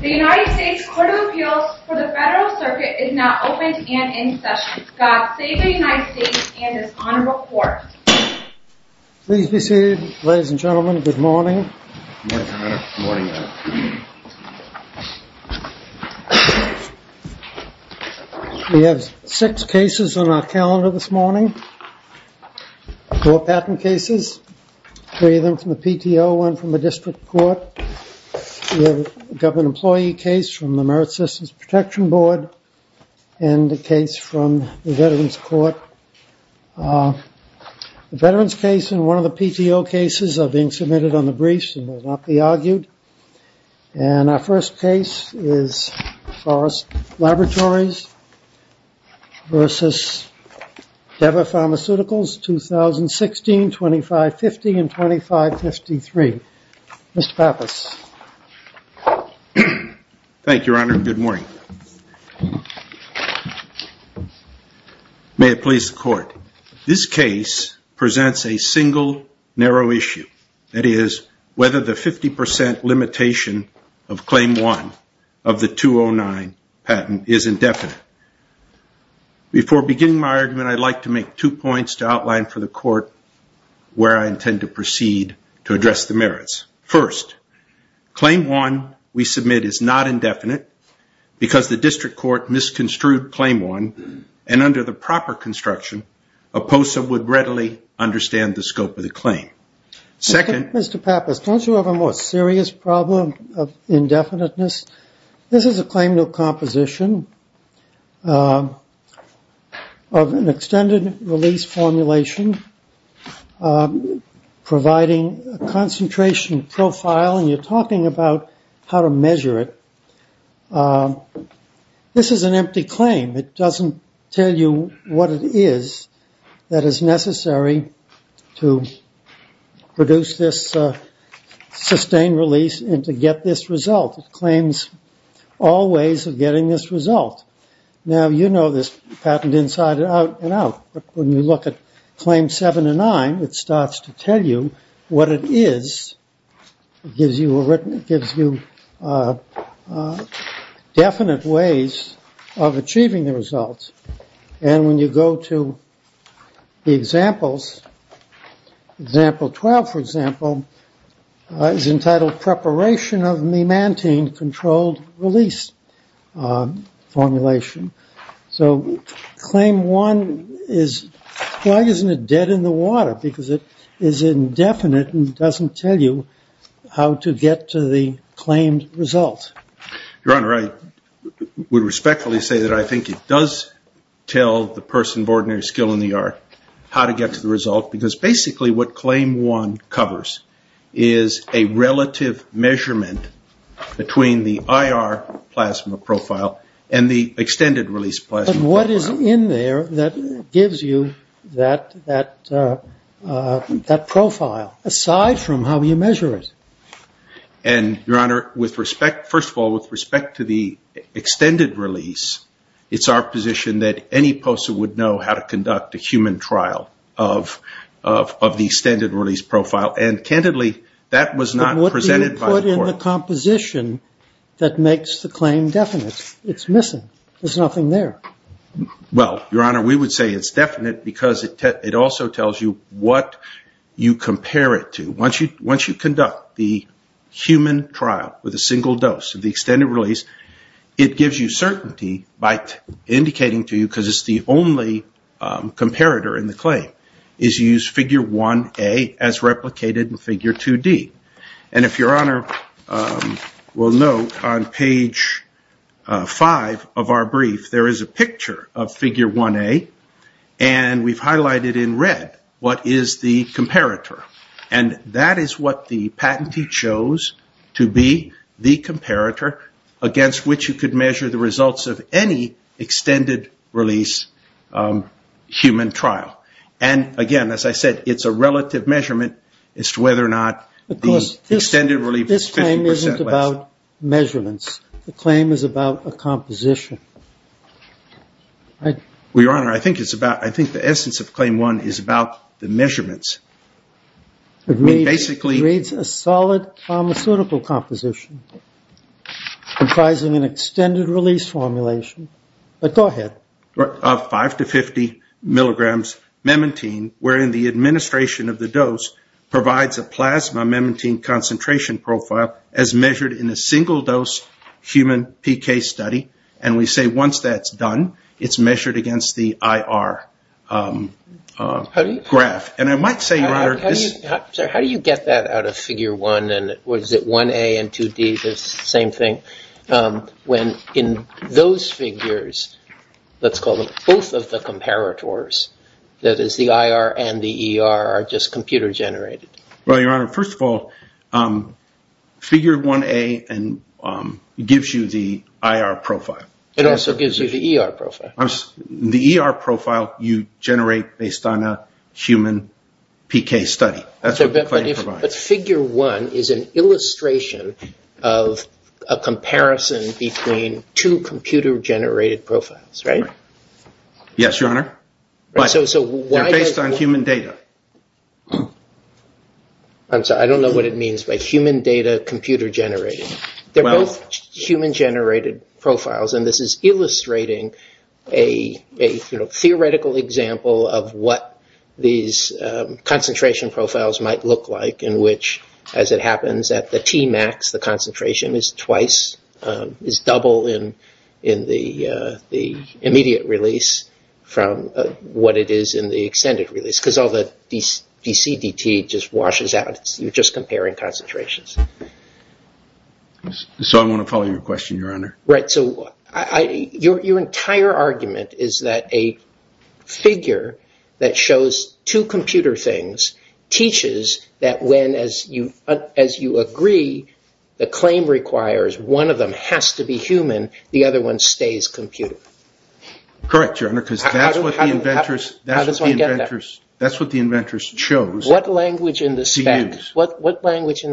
The United States Court of Appeals for the Federal Circuit is now open and in session. God Save the United States and His Honorable Court. Please be seated, ladies and gentlemen. Good morning. Good morning, Your Honor. Good morning, Your Honor. We have six cases on our calendar this morning. Four patent cases, three of them from the PTO, one from the district court. We have a government employee case from the Merit Systems Protection Board and a case from the Veterans Court. The Veterans case and one of the PTO cases are being submitted on the briefs and will not be argued. And our first case is Forest Laboratories v. Teva Pharmaceuticals, 2016, 2550 and 2553. Mr. Pappas. Thank you, Your Honor. Good morning. May it please the Court. This case presents a single narrow issue. That is, whether the 50 percent limitation of Claim 1 of the 209 patent is indefinite. Before beginning my argument, I'd like to make two points to outline for the Court where I intend to proceed to address the merits. First, Claim 1 we submit is not indefinite because the district court misconstrued Claim 1. And under the proper construction, a POSA would readily understand the scope of the claim. Second. Mr. Pappas, don't you have a more serious problem of indefiniteness? This is a claim to a composition of an extended release formulation providing a concentration profile. And you're talking about how to measure it. This is an empty claim. It doesn't tell you what it is that is necessary to produce this sustained release and to get this result. It claims all ways of getting this result. Now, you know this patent inside and out. When you look at Claim 7 and 9, it starts to tell you what it is. It gives you definite ways of achieving the results. And when you go to the examples, Example 12, for example, is entitled Preparation of Mimantine Controlled Release Formulation. So Claim 1 is why isn't it dead in the water? Because it is indefinite and doesn't tell you how to get to the claimed result. Your Honor, I would respectfully say that I think it does tell the person of ordinary skill in the art how to get to the result because basically what Claim 1 covers is a relative measurement between the IR plasma profile and the extended release plasma profile. But what is in there that gives you that profile aside from how you measure it? And, Your Honor, first of all, with respect to the extended release, it's our position that any POSA would know how to conduct a human trial of the extended release profile. And candidly, that was not presented by the court. But what do you put in the composition that makes the claim definite? It's missing. There's nothing there. Well, Your Honor, we would say it's definite because it also tells you what you compare it to. Once you conduct the human trial with a single dose of the extended release, it gives you certainty by indicating to you, because it's the only comparator in the claim, is you use Figure 1A as replicated in Figure 2D. And if Your Honor will note, on page 5 of our brief, there is a picture of Figure 1A. And we've highlighted in red what is the comparator. And that is what the patentee chose to be the comparator against which you could measure the results of any extended release human trial. And, again, as I said, it's a relative measurement as to whether or not the extended release is 50 percent less. This claim isn't about measurements. The claim is about a composition. Well, Your Honor, I think the essence of Claim 1 is about the measurements. It basically reads a solid pharmaceutical composition comprising an extended release formulation. But go ahead. Of 5 to 50 milligrams memantine, wherein the administration of the dose provides a plasma concentration profile as measured in a single-dose human PK study. And we say once that's done, it's measured against the IR graph. And I might say, Your Honor. How do you get that out of Figure 1? And was it 1A and 2D, the same thing? When in those figures, let's call them both of the comparators, that is the IR and the ER are just computer-generated? Well, Your Honor, first of all, Figure 1A gives you the IR profile. It also gives you the ER profile. The ER profile you generate based on a human PK study. That's what the claim provides. But Figure 1 is an illustration of a comparison between two computer-generated profiles, right? Yes, Your Honor. But they're based on human data. I'm sorry. I don't know what it means by human data computer-generated. They're both human-generated profiles, and this is illustrating a theoretical example of what these concentration profiles might look like, in which, as it happens, at the Tmax, the concentration is twice, is double in the immediate release from what it is in the extended release, because all the DCDT just washes out. You're just comparing concentrations. So I want to follow your question, Your Honor. Your entire argument is that a figure that shows two computer things teaches that when, as you agree, the claim requires one of them has to be human, the other one stays computer. Correct, Your Honor, because that's what the inventors chose to use. What language in the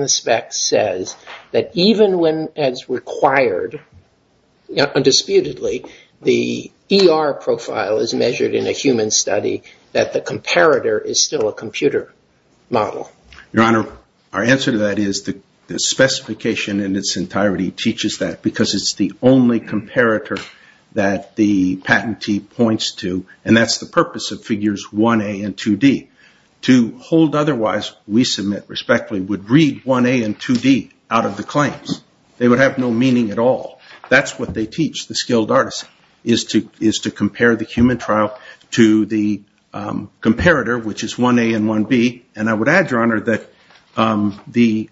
specs says that even when as required, undisputedly, the ER profile is measured in a human study, that the comparator is still a computer model? Your Honor, our answer to that is the specification in its entirety teaches that because it's the only comparator that the patentee points to, and that's the purpose of figures 1A and 2D. To hold otherwise, we submit respectfully would read 1A and 2D out of the claims. They would have no meaning at all. That's what they teach, the skilled artists, is to compare the human trial to the comparator, which is 1A and 1B. I would add, Your Honor, that the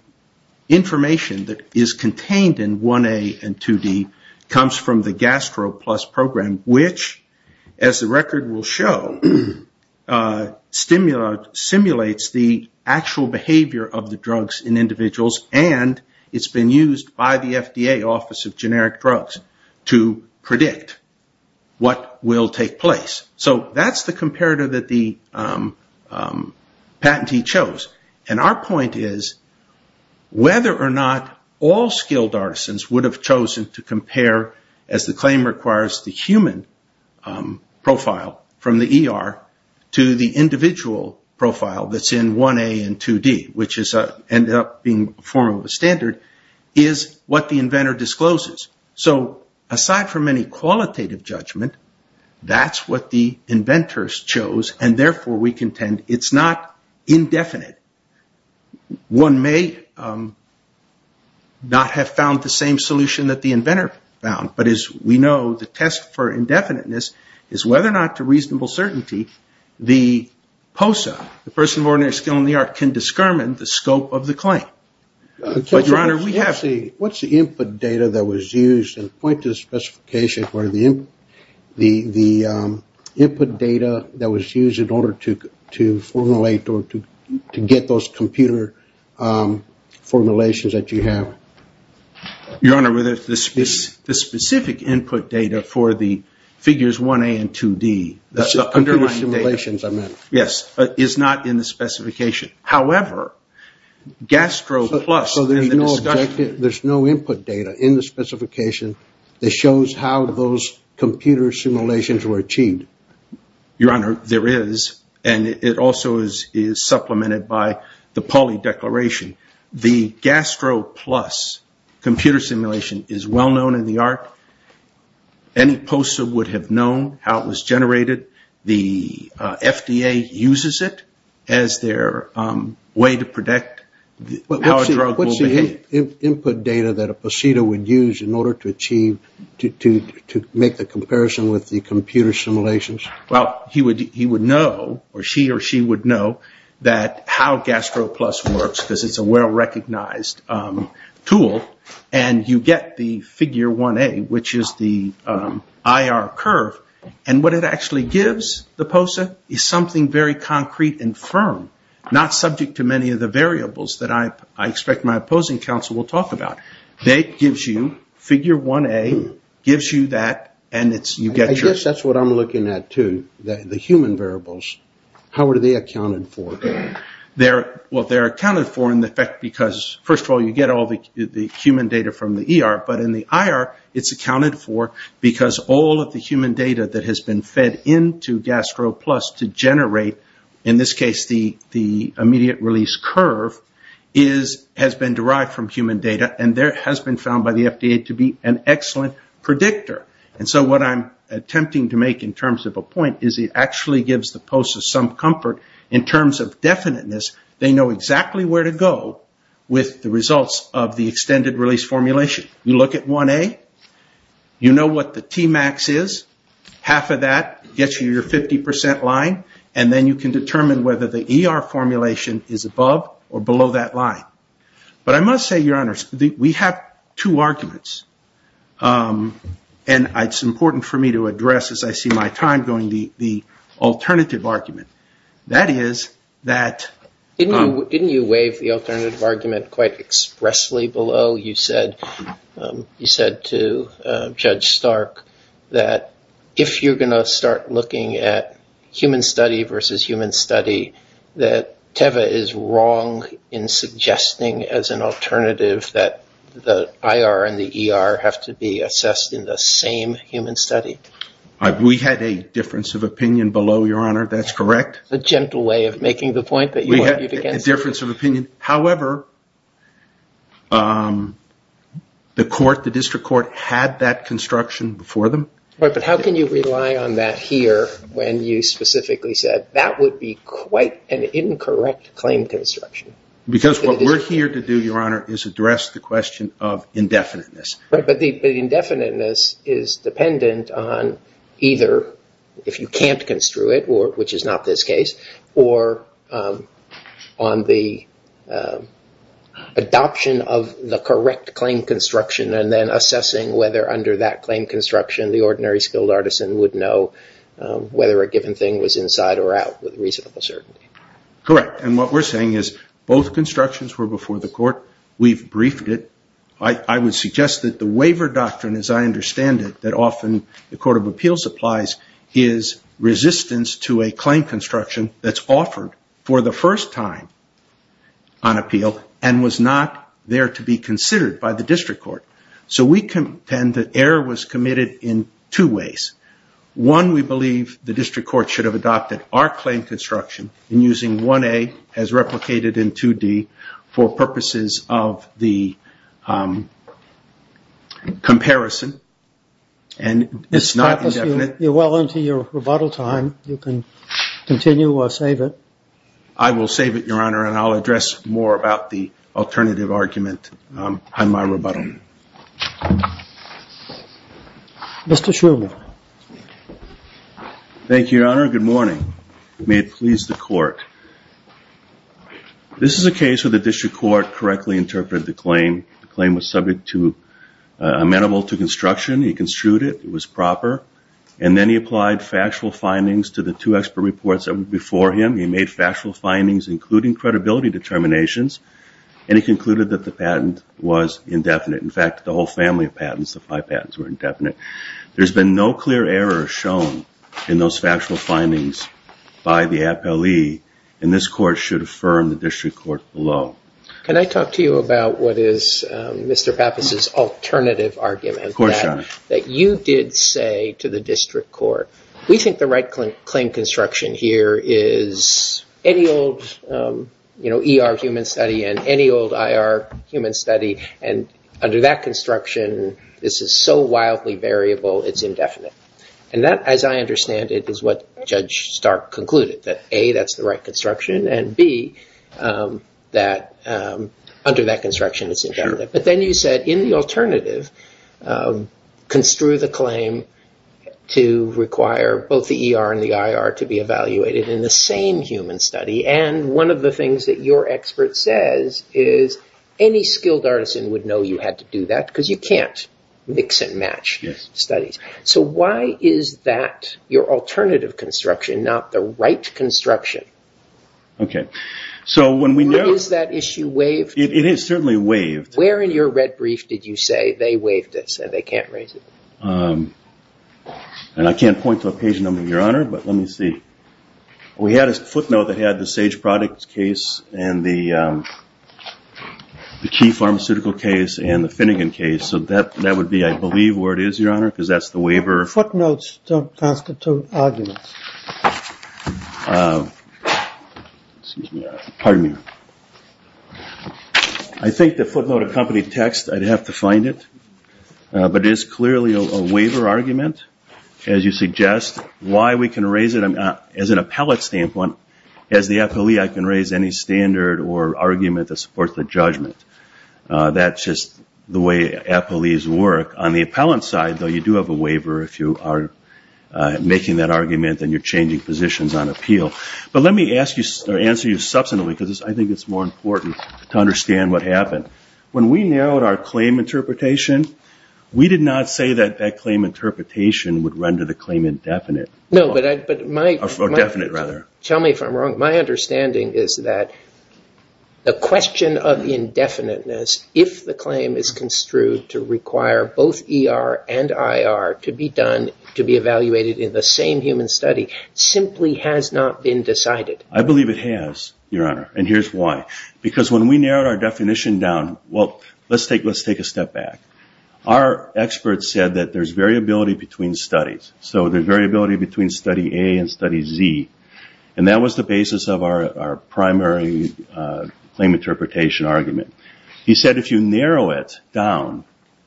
information that is contained in 1A and 2D comes from the Gastro Plus program, which, as the record will show, simulates the actual behavior of the drugs in individuals, and it's been used by the FDA Office of Generic Drugs to predict what will take place. That's the comparator that the patentee chose. Our point is whether or not all skilled artisans would have chosen to compare, as the claim requires, the human profile from the ER to the individual profile that's in 1A and 2D, which ended up being a form of a standard, is what the inventor discloses. Aside from any qualitative judgment, that's what the inventors chose, and therefore we contend it's not indefinite. One may not have found the same solution that the inventor found, but as we know, the test for indefiniteness is whether or not, to reasonable certainty, the POSA, the person of ordinary skill in the art, can discriminate the scope of the claim. Your Honor, what's the input data that was used? And point to the specification for the input data that was used in order to formulate or to get those computer formulations that you have. Your Honor, the specific input data for the figures 1A and 2D, the underlying data, is not in the specification. However, GASTRO Plus, in the discussion... So there's no input data in the specification that shows how those computer simulations were achieved? Your Honor, there is, and it also is supplemented by the Pauli Declaration. The GASTRO Plus computer simulation is well known in the art. Any POSA would have known how it was generated. The FDA uses it as their way to predict how a drug will behave. What's the input data that a POSETA would use in order to achieve, to make the comparison with the computer simulations? Well, he would know, or she or she would know, that how GASTRO Plus works, because it's a well-recognized tool, and you get the figure 1A, which is the IR curve, and what it actually gives the POSA is something very concrete and firm, not subject to many of the variables that I expect my opposing counsel will talk about. It gives you figure 1A, gives you that, and you get... I guess that's what I'm looking at too, the human variables. How are they accounted for? Well, they're accounted for in effect because, first of all, you get all the human data from the ER, but in the IR, it's accounted for because all of the human data that has been fed into GASTRO Plus to generate, in this case, the immediate release curve, has been derived from human data, and there has been found by the FDA to be an excellent predictor. And so what I'm attempting to make in terms of a point is it actually gives the POSA some comfort in terms of definiteness. They know exactly where to go with the results of the extended release formulation. You look at 1A, you know what the Tmax is, half of that gets you your 50% line, and then you can determine whether the ER formulation is above or below that line. But I must say, Your Honor, we have two arguments, and it's important for me to address as I see my time going, the alternative argument. That is that... Didn't you waive the alternative argument quite expressly below? You said to Judge Stark that if you're going to start looking at human study versus human study, that Teva is wrong in suggesting as an alternative that the IR and the ER have to be assessed in the same human study. We had a difference of opinion below, Your Honor, that's correct. A gentle way of making the point that you argued against. We had a difference of opinion. However, the court, the district court, had that construction before them. Right, but how can you rely on that here when you specifically said that would be quite an incorrect claim construction? Because what we're here to do, Your Honor, is address the question of indefiniteness. Right, but the indefiniteness is dependent on either if you can't construe it, which is not this case, or on the adoption of the correct claim construction and then assessing whether under that claim construction the ordinary skilled artisan would know whether a given thing was inside or out with reasonable certainty. Correct, and what we're saying is both constructions were before the court. We've briefed it. I would suggest that the waiver doctrine, as I understand it, that often the Court of Appeals applies, is resistance to a claim construction that's offered for the first time on appeal and was not there to be considered by the district court. So we contend that error was committed in two ways. One, we believe the district court should have adopted our claim construction in using 1A as replicated in 2D for purposes of the comparison, and it's not indefinite. You're well into your rebuttal time. You can continue or save it. I will save it, Your Honor, and I'll address more about the alternative argument on my rebuttal. Mr. Schumer. Thank you, Your Honor. Good morning. May it please the Court. This is a case where the district court correctly interpreted the claim. The claim was subject to amenable to construction. He construed it. It was proper. And then he applied factual findings to the two expert reports that were before him. He made factual findings, including credibility determinations, and he concluded that the patent was indefinite. In fact, the whole family of patents, the five patents, were indefinite. There's been no clear error shown in those factual findings by the appellee, and this Court should affirm the district court below. Can I talk to you about what is Mr. Pappas' alternative argument? Of course, Your Honor. That you did say to the district court, we think the right claim construction here is any old ER human study and any old IR human study, and under that construction this is so wildly variable it's indefinite. And that, as I understand it, is what Judge Stark concluded, that, A, that's the right construction, and, B, that under that construction it's indefinite. But then you said, in the alternative, construe the claim to require both the ER and the IR to be evaluated in the same human study, and one of the things that your expert says is any skilled artisan would know you had to do that, because you can't mix and match studies. So why is that your alternative construction, not the right construction? Okay. So when we know… Is that issue waived? It is certainly waived. Where in your red brief did you say they waived this and they can't raise it? And I can't point to a page number, Your Honor, but let me see. We had a footnote that had the Sage Products case and the key pharmaceutical case and the Finnegan case, so that would be, I believe, where it is, Your Honor, because that's the waiver. Footnotes don't constitute arguments. Excuse me, Your Honor. Pardon me, Your Honor. I think the footnote accompanied text, I'd have to find it, but it is clearly a waiver argument, as you suggest. Why we can raise it, as an appellate standpoint, as the appellee, I can raise any standard or argument that supports the judgment. That's just the way appellees work. On the appellant side, though, you do have a waiver if you are making that argument and you're changing positions on appeal. But let me answer you substantially because I think it's more important to understand what happened. When we narrowed our claim interpretation, we did not say that that claim interpretation would render the claim indefinite. No, but my understanding is that the question of indefiniteness, if the claim is construed to require both ER and IR to be evaluated in the same human study, simply has not been decided. I believe it has, Your Honor, and here's why. Because when we narrowed our definition down, well, let's take a step back. Our expert said that there's variability between studies. So there's variability between study A and study Z, and that was the basis of our primary claim interpretation argument. He said if you narrow it down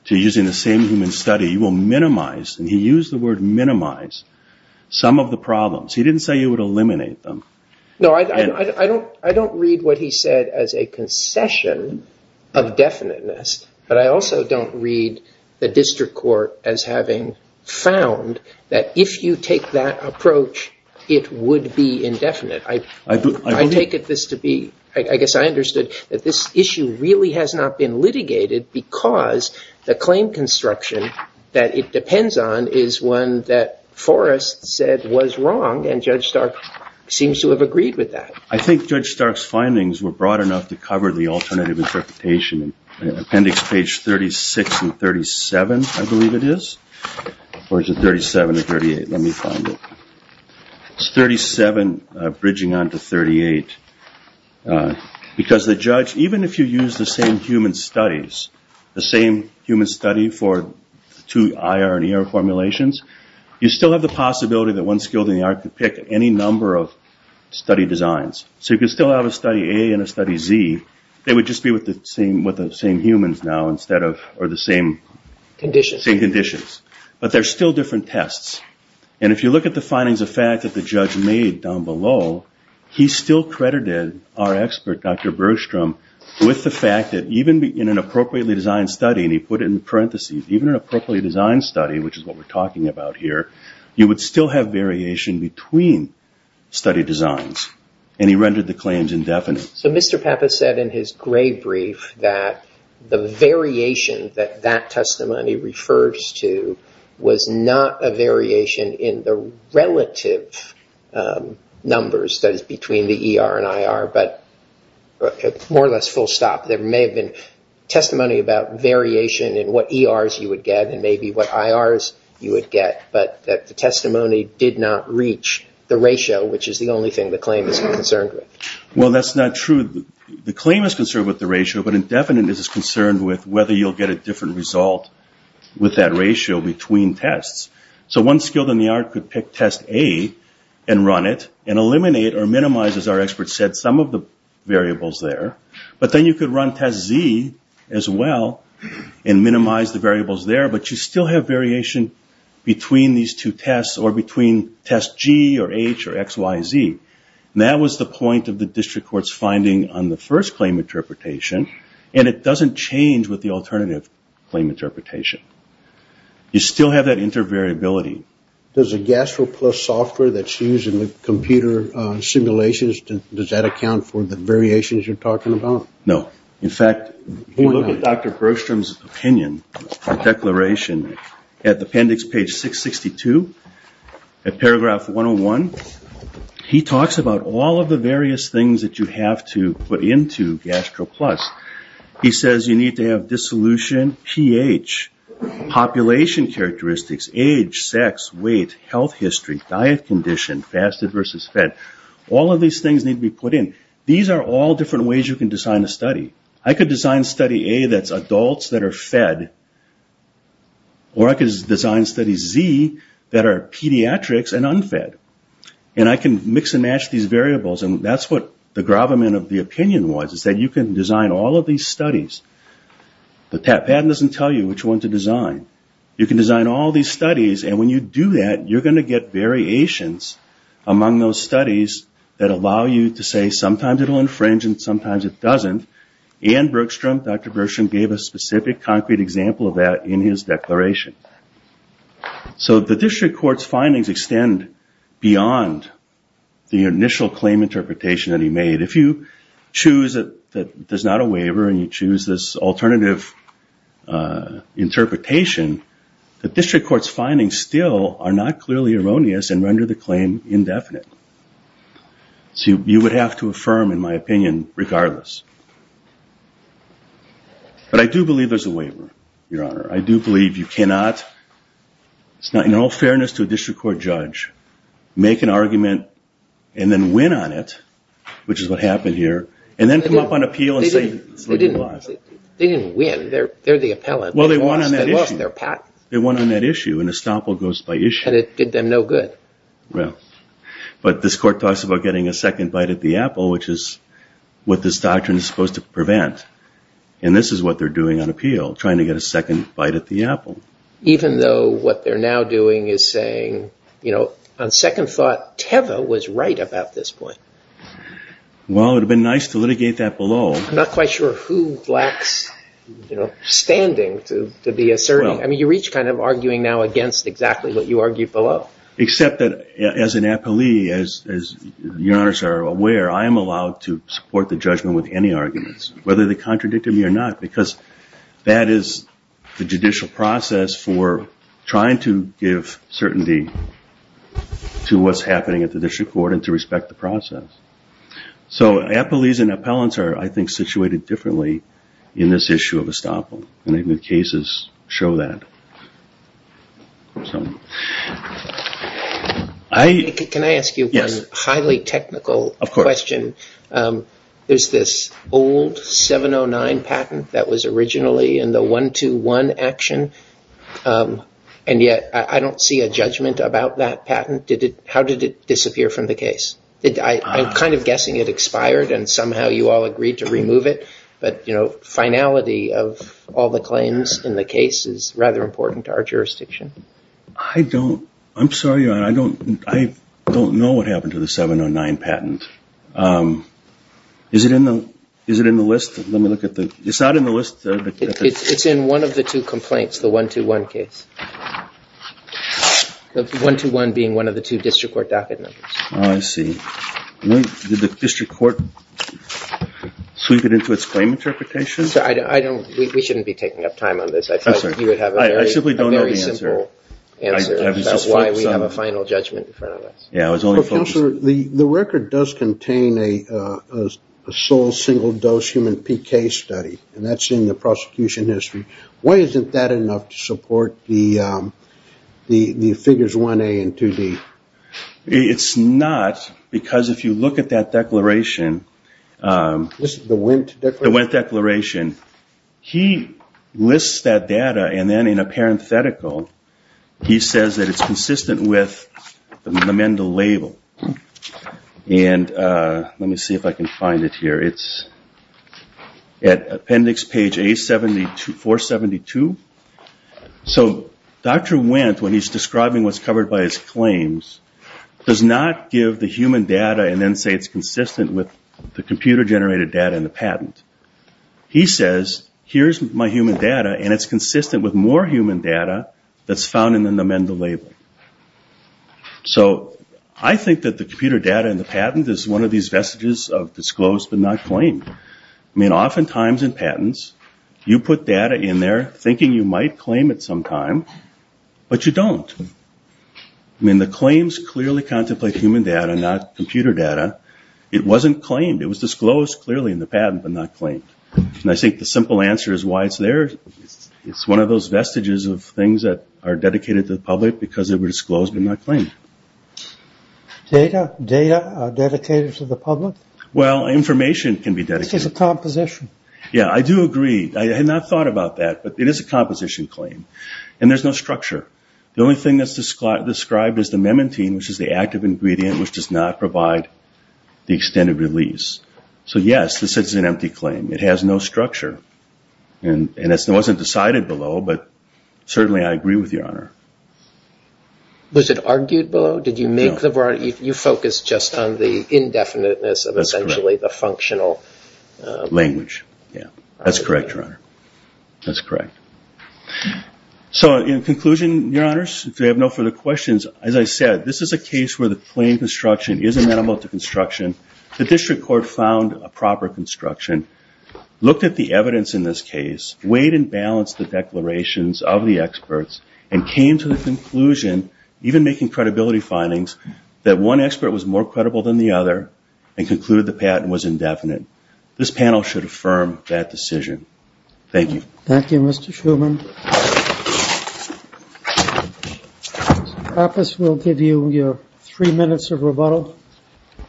to using the same human study, you will minimize, and he used the word minimize, some of the problems. He didn't say he would eliminate them. No, I don't read what he said as a concession of definiteness, but I also don't read the district court as having found that if you take that approach, it would be indefinite. I take it this to be, I guess I understood that this issue really has not been litigated because the claim construction that it depends on is one that Forrest said was wrong, and Judge Stark seems to have agreed with that. I think Judge Stark's findings were broad enough to cover the alternative interpretation. Appendix page 36 and 37, I believe it is, or is it 37 or 38? Let me find it. It's 37 bridging onto 38 because the judge, even if you use the same human studies, the same human study for two IR and ER formulations, you still have the possibility that one skilled in the art could pick any number of study designs. So you could still have a study A and a study Z. They would just be with the same humans now or the same conditions. But they're still different tests. And if you look at the findings of fact that the judge made down below, he still credited our expert, Dr. Bergstrom, with the fact that even in an appropriately designed study, and he put it in parentheses, even in an appropriately designed study, which is what we're talking about here, you would still have variation between study designs. And he rendered the claims indefinite. So Mr. Pappas said in his gray brief that the variation that that testimony refers to was not a variation in the relative numbers, that is, between the ER and IR, but more or less full stop. There may have been testimony about variation in what ERs you would get and maybe what IRs you would get, but that the testimony did not reach the ratio, which is the only thing the claim is concerned with. Well, that's not true. The claim is concerned with the ratio, but indefinite is concerned with whether you'll get a different result with that ratio between tests. So one skilled in the art could pick test A and run it and eliminate or minimize, as our expert said, some of the variables there. But then you could run test Z as well and minimize the variables there, but you still have variation between these two tests or between test G or H or X, Y, Z. And that was the point of the district court's finding on the first claim interpretation, and it doesn't change with the alternative claim interpretation. You still have that inter-variability. Does a gastro plus software that's used in the computer simulations, does that account for the variations you're talking about? No. In fact, if you look at Dr. Bergstrom's opinion, declaration at appendix page 662, at paragraph 101, he talks about all of the various things that you have to put into gastro plus. He says you need to have dissolution, pH, population characteristics, age, sex, weight, health history, diet condition, fasted versus fed. All of these things need to be put in. These are all different ways you can design a study. I could design study A that's adults that are fed, or I could design study Z that are pediatrics and unfed. And I can mix and match these variables, and that's what the gravamen of the opinion was, is that you can design all of these studies. The patent doesn't tell you which one to design. You can design all these studies, and when you do that, you're going to get variations among those studies that allow you to say, well, sometimes it will infringe and sometimes it doesn't. And Bergstrom, Dr. Bergstrom gave a specific concrete example of that in his declaration. So the district court's findings extend beyond the initial claim interpretation that he made. If you choose that there's not a waiver and you choose this alternative interpretation, the district court's findings still are not clearly erroneous and render the claim indefinite. So you would have to affirm, in my opinion, regardless. But I do believe there's a waiver, Your Honor. I do believe you cannot, in all fairness to a district court judge, make an argument and then win on it, which is what happened here, and then come up on appeal and say it's legalized. They didn't win. They're the appellant. Well, they won on that issue. They lost their patent. They won on that issue, and estoppel goes by issue. And it did them no good. But this court talks about getting a second bite at the apple, which is what this doctrine is supposed to prevent. And this is what they're doing on appeal, trying to get a second bite at the apple. Even though what they're now doing is saying, you know, on second thought Teva was right about this point. Well, it would have been nice to litigate that below. I'm not quite sure who lacks, you know, standing to be assertive. I mean, you're each kind of arguing now against exactly what you argued below. Except that as an appellee, as your honors are aware, I am allowed to support the judgment with any arguments, whether they contradicted me or not, because that is the judicial process for trying to give certainty to what's happening at the district court and to respect the process. So appellees and appellants are, I think, situated differently in this issue of estoppel, and I think the cases show that. Can I ask you one highly technical question? There's this old 709 patent that was originally in the 121 action, and yet I don't see a judgment about that patent. How did it disappear from the case? I'm kind of guessing it expired and somehow you all agreed to remove it. But finality of all the claims in the case is rather important to our jurisdiction. I don't know what happened to the 709 patent. Is it in the list? It's not in the list. It's in one of the two complaints, the 121 case. The 121 being one of the two district court docket numbers. I see. Did the district court sweep it into its claim interpretation? We shouldn't be taking up time on this. I thought you would have a very simple answer about why we have a final judgment in front of us. Counselor, the record does contain a sole single-dose human PK study, and that's in the prosecution history. Why isn't that enough to support the figures 1A and 2D? It's not, because if you look at that declaration. This is the Wendt declaration? The Wendt declaration. He lists that data and then in a parenthetical, he says that it's consistent with the lamendal label. Let me see if I can find it here. It's at appendix page 472. Dr. Wendt, when he's describing what's covered by his claims, does not give the human data and then say it's consistent with the computer-generated data in the patent. He says, here's my human data, and it's consistent with more human data that's found in the lamendal label. I think that the computer data in the patent is one of these vestiges of disclosed but not claimed. Oftentimes in patents, you put data in there thinking you might claim it sometime, but you don't. The claims clearly contemplate human data, not computer data. It wasn't claimed. It was disclosed clearly in the patent but not claimed. I think the simple answer is why it's there. It's one of those vestiges of things that are dedicated to the public because they were disclosed but not claimed. Data are dedicated to the public? Well, information can be dedicated. It's just a composition. Yeah, I do agree. I had not thought about that, but it is a composition claim, and there's no structure. The only thing that's described is the memantine, which is the active ingredient which does not provide the extended release. So, yes, this is an empty claim. It has no structure, and it wasn't decided below, but certainly I agree with Your Honor. Was it argued below? No. You focused just on the indefiniteness of essentially the functional. Language, yeah. That's correct, Your Honor. That's correct. So, in conclusion, Your Honors, if you have no further questions, as I said, this is a case where the claimed construction is amenable to construction. The district court found a proper construction, looked at the evidence in this case, weighed and balanced the declarations of the experts, and came to the conclusion, even making credibility findings, that one expert was more credible than the other and concluded the patent was indefinite. This panel should affirm that decision. Thank you. Thank you, Mr. Shuman. The office will give you your three minutes of rebuttal.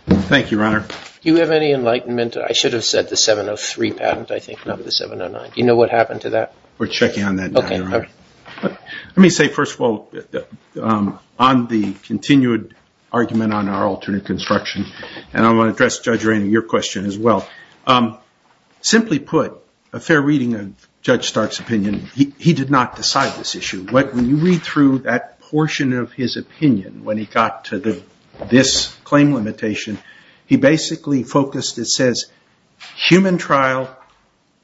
Thank you, Your Honor. Do you have any enlightenment? I should have said the 703 patent, I think, not the 709. Do you know what happened to that? We're checking on that now, Your Honor. Let me say, first of all, on the continued argument on our alternate construction, and I want to address, Judge Rainey, your question as well. Simply put, a fair reading of Judge Stark's opinion, he did not decide this issue. When you read through that portion of his opinion, when he got to this claim limitation, he basically focused, it says, human trial,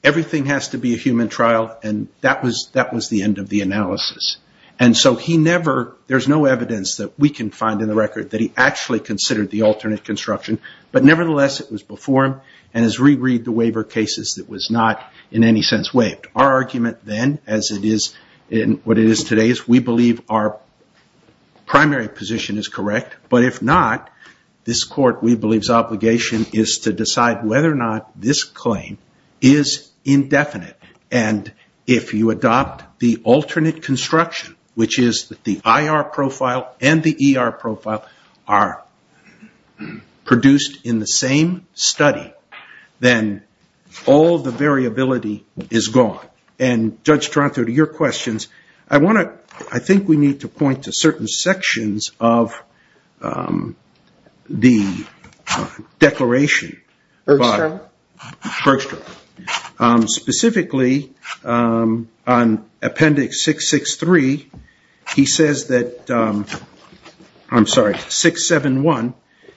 everything has to be a human trial, and that was the end of the analysis. There's no evidence that we can find in the record that he actually considered the alternate construction, but nevertheless, it was before him and has reread the waiver cases that was not in any sense waived. Our argument then, as it is in what it is today, is we believe our primary position is correct, but if not, this court, we believe, is to decide whether or not this claim is indefinite, and if you adopt the alternate construction, which is that the IR profile and the ER profile are produced in the same study, then all the variability is gone. And, Judge Toronto, to your questions, I think we need to point to certain sections of the declaration. Bergstrom? Bergstrom. Specifically, on Appendix 663, he says that, I'm sorry, 671,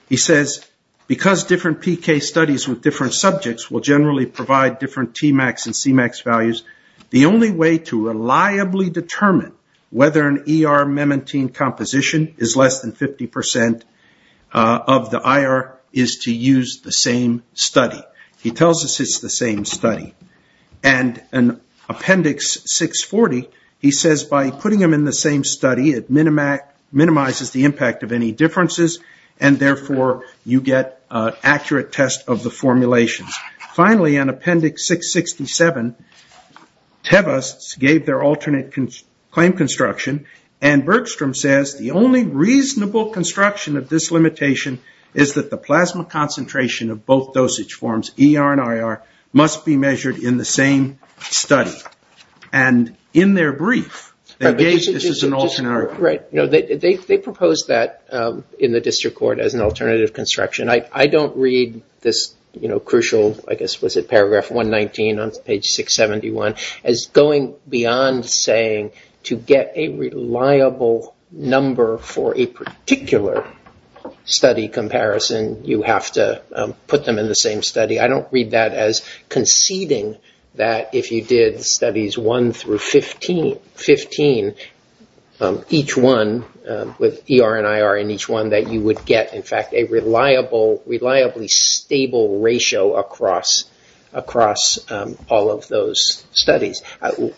he says, because different PK studies with different subjects will generally provide different Tmax and Cmax values, the only way to reliably determine whether an ER memantine composition is less than 50 percent of the IR is to use the same study. He tells us it's the same study. And in Appendix 640, he says by putting them in the same study, it minimizes the impact of any differences, and therefore, you get an accurate test of the formulations. Finally, on Appendix 667, Tevas gave their alternate claim construction, and Bergstrom says the only reasonable construction of this limitation is that the plasma concentration of both dosage forms, ER and IR, must be measured in the same study. And in their brief, they gave this as an alternative. They proposed that in the district court as an alternative construction. I don't read this crucial, I guess, was it paragraph 119 on page 671, as going beyond saying to get a reliable number for a particular study comparison, you have to put them in the same study. I don't read that as conceding that if you did studies 1 through 15, each one with ER and IR in each one, that you would get, in fact, a reliably stable ratio across all of those studies.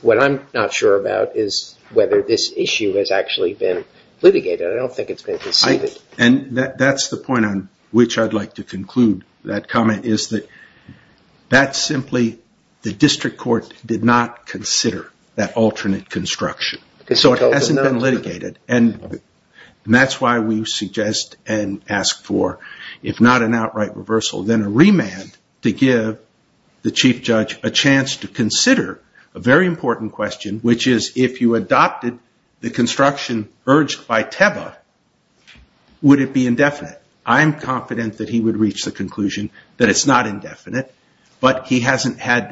What I'm not sure about is whether this issue has actually been litigated. I don't think it's been conceded. And that's the point on which I'd like to conclude that comment, is that that's simply the district court did not consider that alternate construction. So it hasn't been litigated. And that's why we suggest and ask for, if not an outright reversal, then a remand to give the chief judge a chance to consider a very important question, which is if you adopted the construction urged by Tebbe, would it be indefinite? I'm confident that he would reach the conclusion that it's not indefinite. But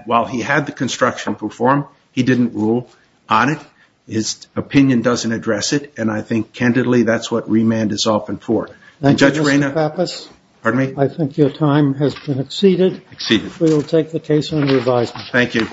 while he had the construction performed, he didn't rule on it. His opinion doesn't address it. And I think, candidly, that's what remand is often for. Thank you, Mr. Pappas. Pardon me? I think your time has been exceeded. Exceeded. We will take the case under advisement. Thank you.